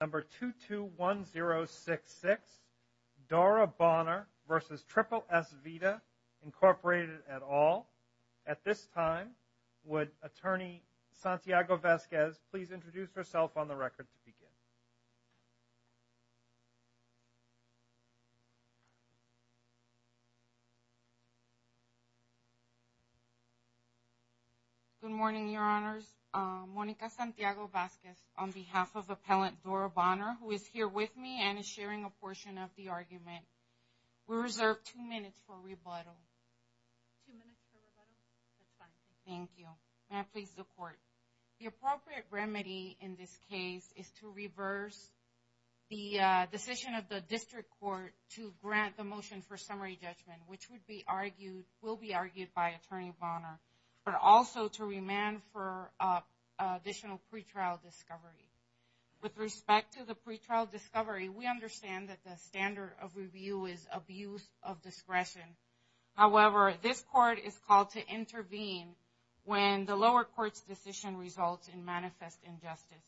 Number 221066, Dora Bonner v. Triple-S Vida, Inc. et al. At this time, would Attorney Santiago-Vasquez please introduce herself on the record to begin? Good morning, Your Honors. Monica Santiago-Vasquez, on behalf of Appellant Dora Bonner, who is here with me and is sharing a portion of the argument. We reserve two minutes for rebuttal. Two minutes for rebuttal? That's fine. Thank you. May I please, the Court? The appropriate remedy in this case is to reverse the decision of the District Court to grant the motion for summary judgment, which will be argued by Attorney Bonner, but also to remand for additional pretrial discovery. With respect to the pretrial discovery, we understand that the standard of review is abuse of discretion. However, this Court is called to intervene when the lower court's decision results in manifest injustice.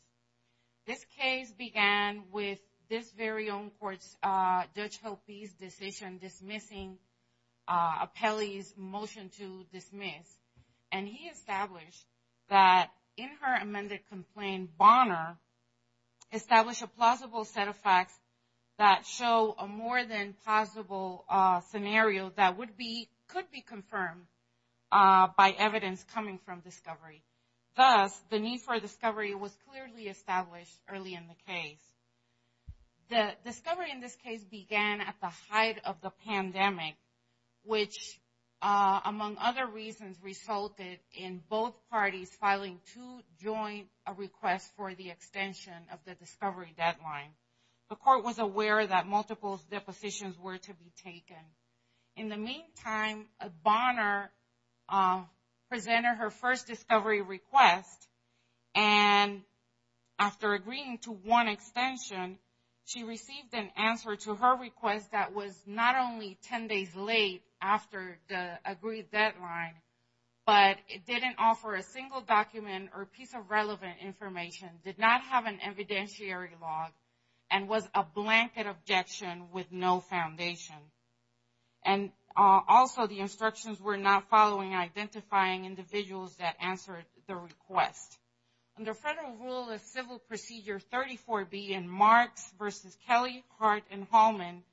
This case began with this very own court's Judge Hoppe's decision dismissing Appellee's motion to dismiss. And he established that in her amended complaint, Bonner established a plausible set of facts that show a more than plausible scenario that would be, could be confirmed by evidence coming from discovery. Thus, the need for discovery was clearly established early in the case. The discovery in this case began at the height of the pandemic, which, among other reasons, resulted in both parties filing two joint requests for the extension of the discovery deadline. The Court was aware that multiple depositions were to be taken. In the meantime, Bonner presented her first discovery request. And after agreeing to one extension, she received an answer to her request that was not only 10 days late after the agreed deadline, but it didn't offer a single document or piece of relevant information, did not have an evidentiary log, and was a blanket objection with no foundation. And also, the instructions were not following identifying individuals that answered the request. Under Federal Rule of Civil Procedure 34B in Marks v. Kelly, Hart, and Hallman,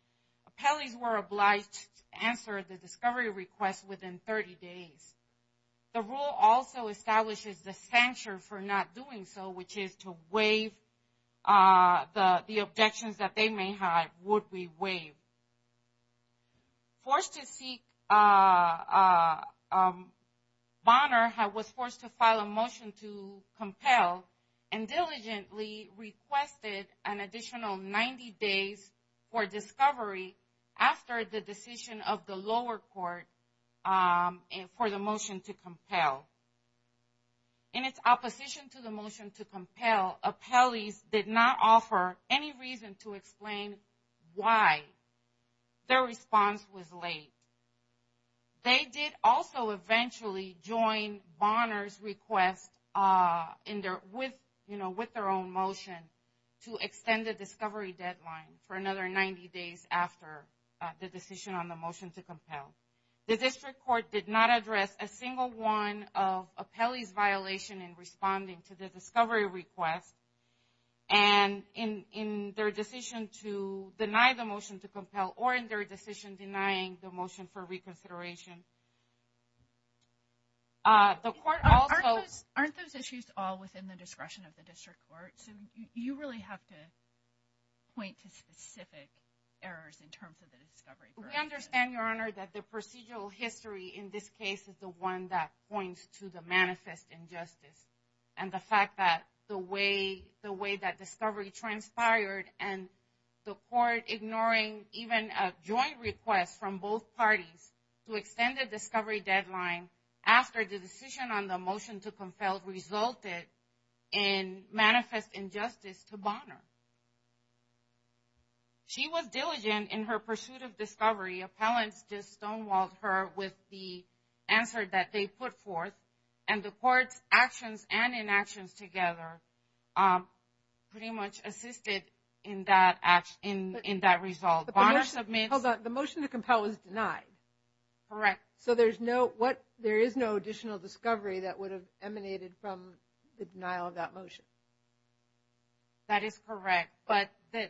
Appellees were obliged to answer the discovery request within 30 days. The rule also establishes the sanction for not doing so, which is to waive the objections that they may have would be waived. Forced to seek, Bonner was forced to file a motion to compel, and diligently requested an additional 90 days for discovery after the decision of the lower court for the motion to compel. In its opposition to the motion to compel, Appellees did not offer any reason to explain why their response was late. They did also eventually join Bonner's request with their own motion to extend the discovery deadline for another 90 days after the decision on the motion to compel. The district court did not address a single one of Appellee's violation in responding to the discovery request, and in their decision to deny the motion to compel, or in their decision denying the motion for reconsideration. Aren't those issues all within the discretion of the district court? You really have to point to specific errors in terms of the discovery request. We understand, Your Honor, that the procedural history in this case is the one that points to the manifest injustice, and the fact that the way that discovery transpired, and the court ignoring even a joint request from both parties to extend the discovery deadline after the decision on the motion to compel resulted in manifest injustice to Bonner. She was diligent in her pursuit of discovery. Appellants just stonewalled her with the answer that they put forth, and the court's actions and inactions together pretty much assisted in that result. Hold on, the motion to compel was denied? Correct. So there is no additional discovery that would have emanated from the denial of that motion? That is correct. But the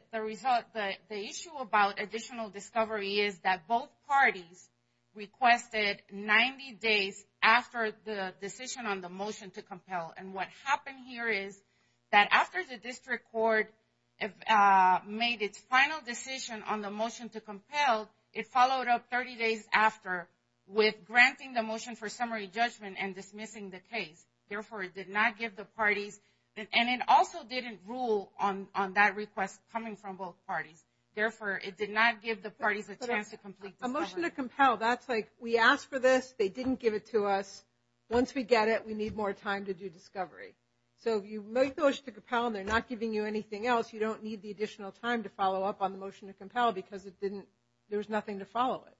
issue about additional discovery is that both parties requested 90 days after the decision on the motion to compel. And what happened here is that after the district court made its final decision on the motion to compel, it followed up 30 days after with granting the motion for summary judgment and dismissing the case. Therefore, it did not give the parties, and it also didn't rule on that request coming from both parties. Therefore, it did not give the parties a chance to complete the discovery. A motion to compel, that's like we asked for this, they didn't give it to us. Once we get it, we need more time to do discovery. So if you make the motion to compel and they're not giving you anything else, you don't need the additional time to follow up on the motion to compel because it didn't, there was nothing to follow it.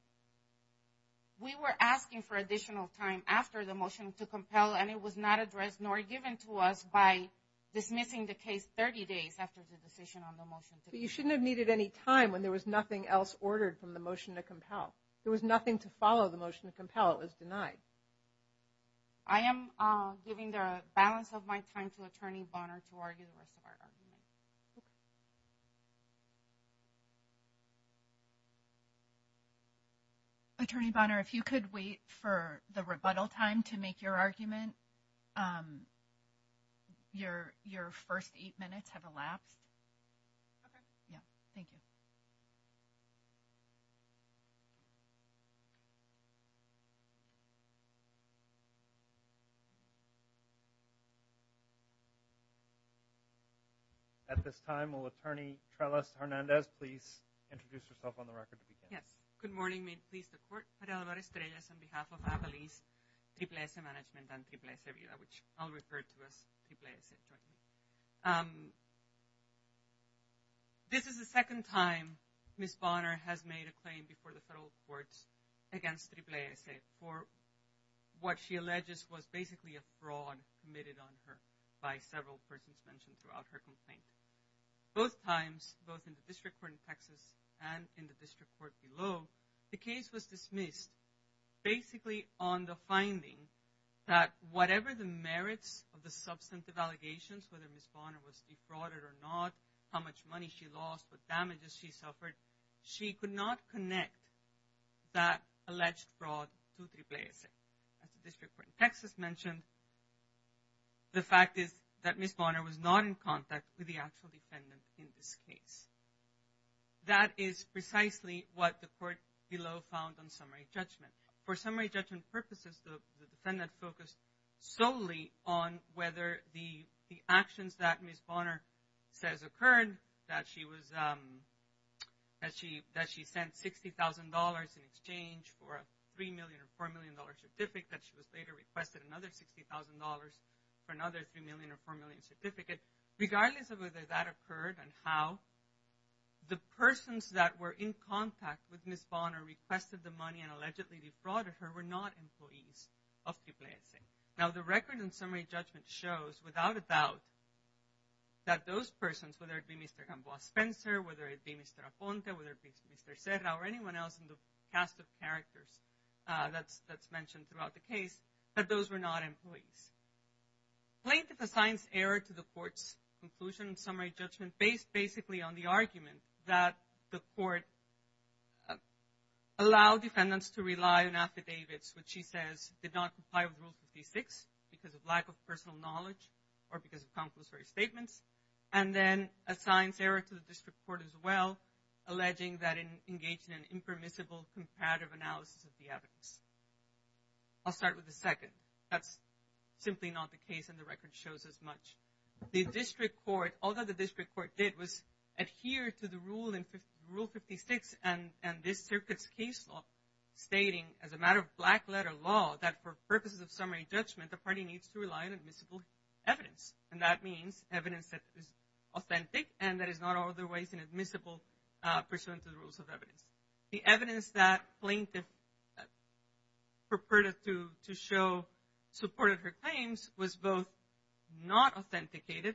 We were asking for additional time after the motion to compel, and it was not addressed nor given to us by dismissing the case 30 days after the decision on the motion to compel. But you shouldn't have needed any time when there was nothing else ordered from the motion to compel. There was nothing to follow the motion to compel. It was denied. I am giving the balance of my time to Attorney Bonner to argue the rest of our argument. Attorney Bonner, if you could wait for the rebuttal time to make your argument. Your first eight minutes have elapsed. Okay. Yeah. Thank you. At this time, will Attorney Trellis Hernandez please introduce herself on the record. Yes. Good morning. May it please the Court. Maria Álvarez Trellis on behalf of Avalese Triple S Management and Triple S Vida, which I'll refer to as Triple S. This is the second time Ms. Bonner has made a claim before the federal courts against Triple S for what she alleges was basically a fraud committed on her by several persons mentioned throughout her complaint. Both times, both in the District Court in Texas and in the District Court below, the case was dismissed basically on the finding that whatever the merits of the substantive allegations, whether Ms. Bonner was defrauded or not, how much money she lost, what damages she suffered, she could not connect that alleged fraud to Triple S. As the District Court in Texas mentioned, the fact is that Ms. Bonner was not in contact with the actual defendant in this case. That is precisely what the court below found on summary judgment. For summary judgment purposes, the defendant focused solely on whether the actions that Ms. Bonner says occurred, that she sent $60,000 in exchange for a $3 million or $4 million certificate, that she was later requested another $60,000 for another $3 million or $4 million certificate. Regardless of whether that occurred and how, the persons that were in contact with Ms. Bonner, requested the money and allegedly defrauded her were not employees of Triple S. Now, the record in summary judgment shows without a doubt that those persons, whether it be Mr. Gamboa Spencer, whether it be Mr. Aponte, whether it be Mr. Serra or anyone else in the cast of characters that's mentioned throughout the case, that those were not employees. Plaintiff assigns error to the court's conclusion in summary judgment based basically on the argument that the court allowed because of lack of personal knowledge or because of compulsory statements and then assigns error to the district court as well, alleging that it engaged in an impermissible comparative analysis of the evidence. I'll start with the second. That's simply not the case and the record shows as much. The district court, although the district court did, was adhered to the rule in Rule 56 and this circuit's case law, stating as a matter of black letter law that for purposes of summary judgment, the party needs to rely on admissible evidence and that means evidence that is authentic and that is not otherwise inadmissible pursuant to the rules of evidence. The evidence that plaintiff purported to show supported her claims was both not authenticated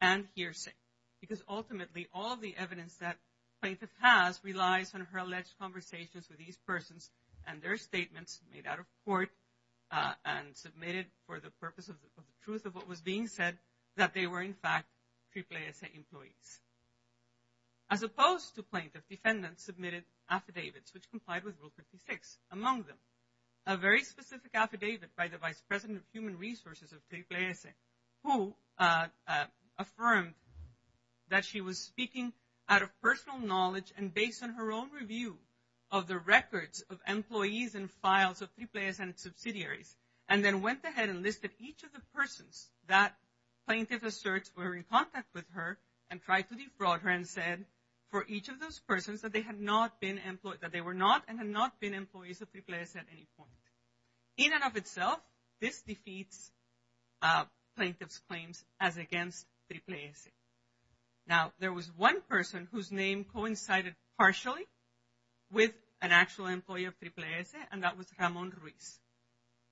and hearsay because ultimately all of the evidence that plaintiff has relies on her alleged conversations with these persons and their statements made out of court and submitted for the purpose of the truth of what was being said, that they were in fact AAA employees. As opposed to plaintiff, defendants submitted affidavits which complied with Rule 56. A very specific affidavit by the Vice President of Human Resources of AAA who affirmed that she was speaking out of personal knowledge and based on her own review of the records of employees and files of AAA subsidiaries and then went ahead and listed each of the persons that plaintiff asserts were in contact with her and tried to defraud her and said for each of those persons that they were not and had not been employees of AAA at any point. In and of itself, this defeats plaintiff's claims as against AAA. Now, there was one person whose name coincided partially with an actual employee of AAA and that was Ramon Ruiz.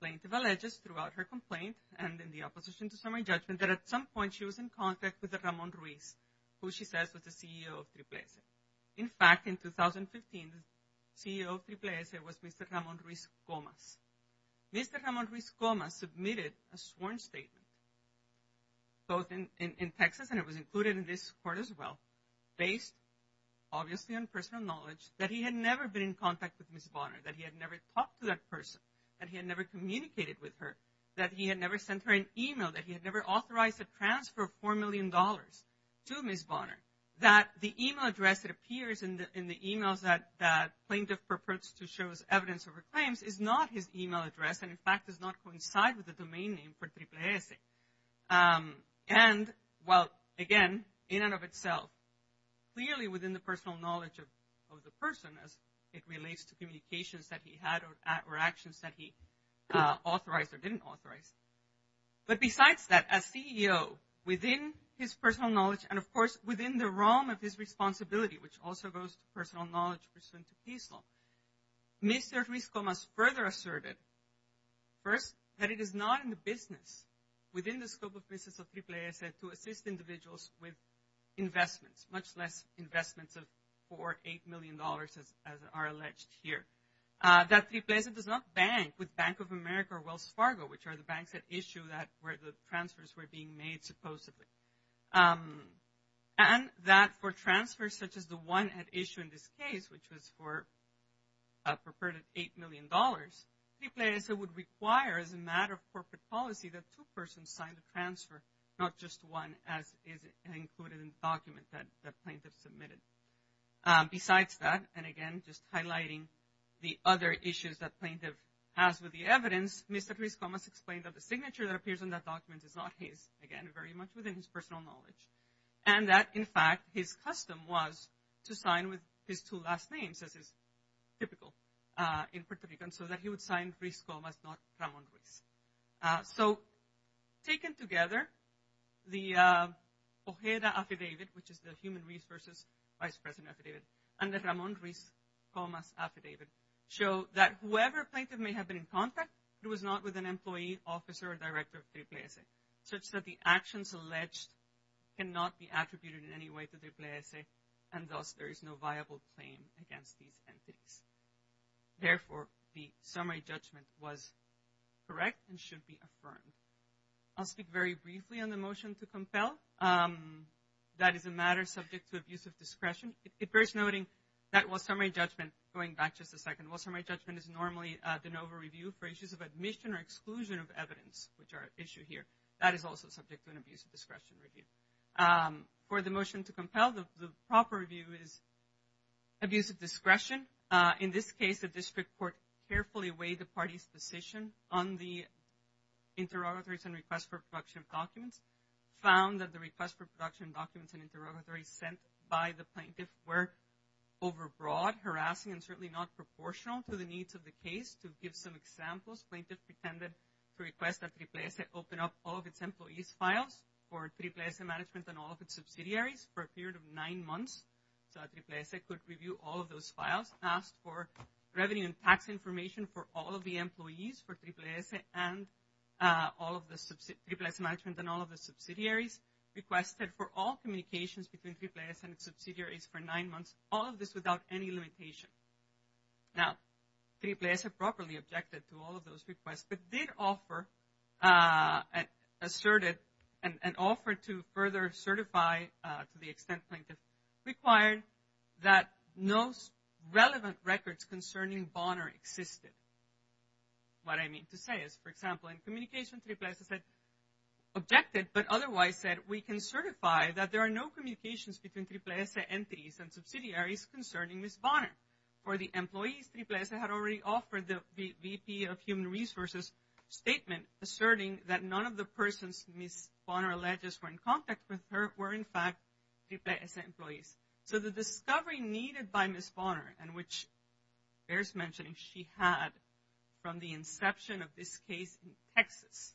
Plaintiff alleges throughout her complaint and in the opposition to summary judgment that at some point she was in contact with Ramon Ruiz who she says was the CEO of AAA. In fact, in 2015, the CEO of AAA was Mr. Ramon Ruiz Gomez. Mr. Ramon Ruiz Gomez submitted a sworn statement both in Texas and it was included in this court as well based obviously on personal knowledge that he had never been in contact with Ms. Bonner, that he had never talked to that person, that he had never communicated with her, that he had never sent her an email, that he had never authorized a transfer of $4 million to Ms. Bonner, that the email address that appears in the emails that plaintiff purports to show as evidence of her claims is not his email address and in fact does not coincide with the domain name for AAA. And well, again, in and of itself, clearly within the personal knowledge of the person as it relates to communications that he had or actions that he authorized or didn't authorize. But besides that, as CEO, within his personal knowledge and of course within the realm of his responsibility which also goes to personal knowledge pursuant to case law, Mr. Ruiz Gomez further asserted, first, that it is not in the business, within the scope of business of AAA, to assist individuals with investments, much less investments of $4 or $8 million as are alleged here. That AAA does not bank with Bank of America or Wells Fargo, which are the banks that issue where the transfers were being made supposedly. And that for transfers such as the one at issue in this case, which was for a purported $8 million, AAA would require as a matter of corporate policy that two persons sign the transfer, not just one as is included in the document that the plaintiff submitted. Besides that, and again, just highlighting the other issues that plaintiff has with the evidence, Mr. Ruiz Gomez explained that the signature that appears in that document is not his, again, very much within his personal knowledge. And that, in fact, his custom was to sign with his two last names, as is typical in Puerto Rican, so that he would sign Ruiz Gomez, not Ramon Ruiz. So taken together, the Ojeda Affidavit, which is the Human Resources Vice President Affidavit, and the Ramon Ruiz Gomez Affidavit show that whoever plaintiff may have been in contact, it was not with an employee, officer, or director of AAA, such that the actions alleged cannot be attributed in any way to AAA, and thus there is no viable claim against these entities. Therefore, the summary judgment was correct and should be affirmed. I'll speak very briefly on the motion to compel. That is a matter subject to abuse of discretion. It bears noting that while summary judgment, going back just a second, while summary judgment is normally the NOVA review for issues of admission or exclusion of evidence, which are at issue here, that is also subject to an abuse of discretion review. For the motion to compel, the proper review is abuse of discretion. In this case, the district court carefully weighed the party's decision on the interrogatories and request for production documents, found that the request for production documents and interrogatories sent by the plaintiff were overbroad, harassing, and certainly not proportional to the needs of the case. To give some examples, plaintiff pretended to request that AAA open up all of its employees' files for AAA management and all of its subsidiaries for a period of nine months so that AAA could review all of those files, asked for revenue and tax information for all of the employees for AAA management and all of the subsidiaries, requested for all communications between AAA and its subsidiaries for nine months, all of this without any limitation. Now, AAA properly objected to all of those requests, but did offer an offer to further certify to the extent plaintiff required that no relevant records concerning Bonner existed. What I mean to say is, for example, in communication, AAA said, objected but otherwise said, we can certify that there are no communications For the employees, AAA had already offered the VP of Human Resources statement asserting that none of the persons Ms. Bonner alleges were in contact with her were in fact AAA employees. So the discovery needed by Ms. Bonner, and which bears mentioning she had from the inception of this case in Texas,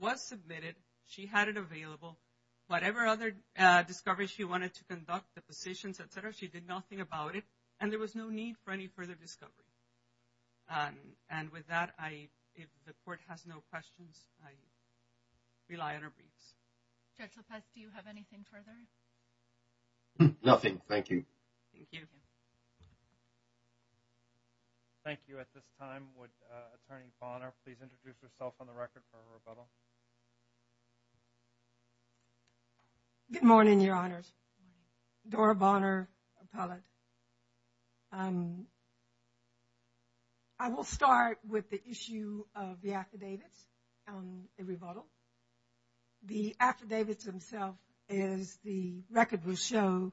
was submitted. She had it available. She did nothing about it, and there was no need for any further discovery. And with that, if the court has no questions, I rely on our briefs. Judge Lopez, do you have anything further? Nothing. Thank you. Thank you. Thank you. At this time, would Attorney Bonner please introduce herself on the record for a rebuttal? Good morning, Your Honors. Good morning. Dora Bonner, appellate. I will start with the issue of the affidavits on a rebuttal. The affidavits themselves, as the record will show,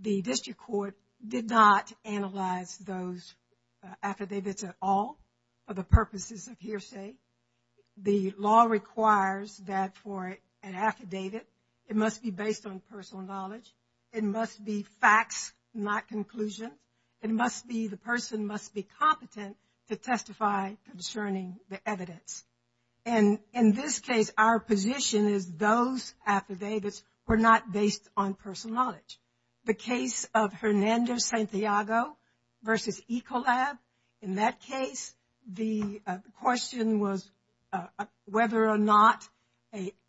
the district court did not analyze those affidavits at all for the purposes of hearsay. The law requires that for an affidavit, it must be based on personal knowledge. It must be facts, not conclusions. It must be the person must be competent to testify concerning the evidence. And in this case, our position is those affidavits were not based on personal knowledge. The case of Hernando Santiago versus Ecolab, in that case, the question was whether or not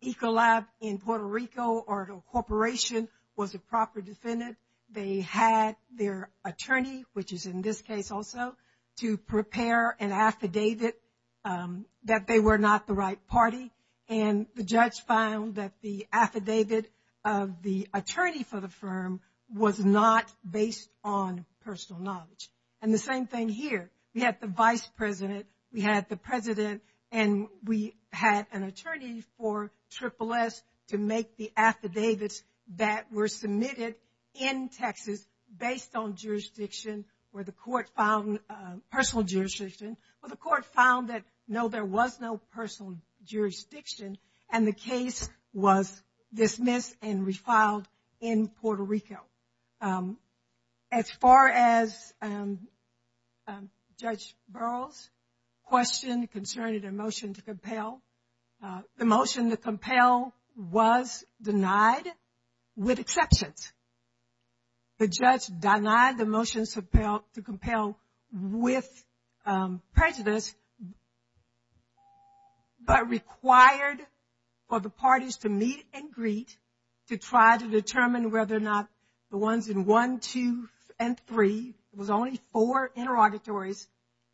Ecolab in Puerto Rico or a corporation was a proper defendant. They had their attorney, which is in this case also, to prepare an affidavit that they were not the right party. And the judge found that the affidavit of the attorney for the firm was not based on personal knowledge. And the same thing here. We had the vice president, we had the president, and we had an attorney for Triple S to make the affidavits that were submitted in Texas based on jurisdiction where the court found personal jurisdiction, where the court found that, no, there was no personal jurisdiction, and the case was dismissed and refiled in Puerto Rico. As far as Judge Burroughs' question concerning the motion to compel, the motion to compel was denied with exceptions. The judge denied the motion to compel with prejudice, but required for the motions, the ones in 1, 2, and 3, it was only four interrogatories,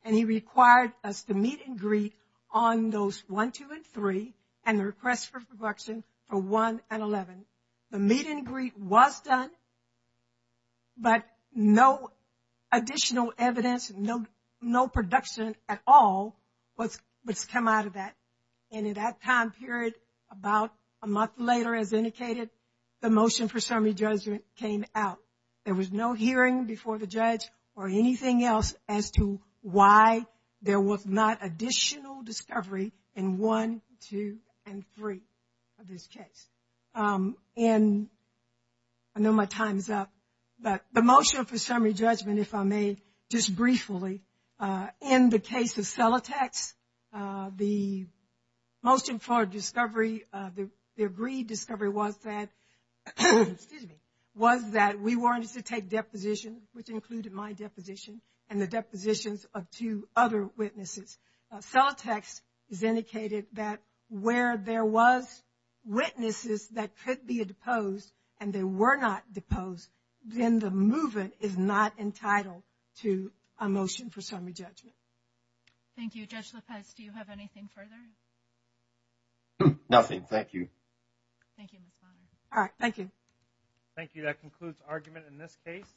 and he required us to meet and greet on those 1, 2, and 3, and the request for production for 1 and 11. The meet and greet was done, but no additional evidence, no production at all was come out of that. And in that time period, about a month later, as indicated, the motion for summary judgment came out. There was no hearing before the judge or anything else as to why there was not additional discovery in 1, 2, and 3 of this case. And I know my time is up, but the motion for summary judgment, if I may, just briefly, in the case of Celotex, the motion for discovery, the agreed discovery was that we wanted to take deposition, which included my deposition, and the depositions of two other witnesses. Celotex indicated that where there was witnesses that could be deposed and they were not deposed, then the movement is not entitled to a motion for summary judgment. Thank you. Judge Lopez, do you have anything further? Nothing. Thank you. Thank you, Ms. Bonner. All right. Thank you. Thank you. I believe that concludes argument in this case.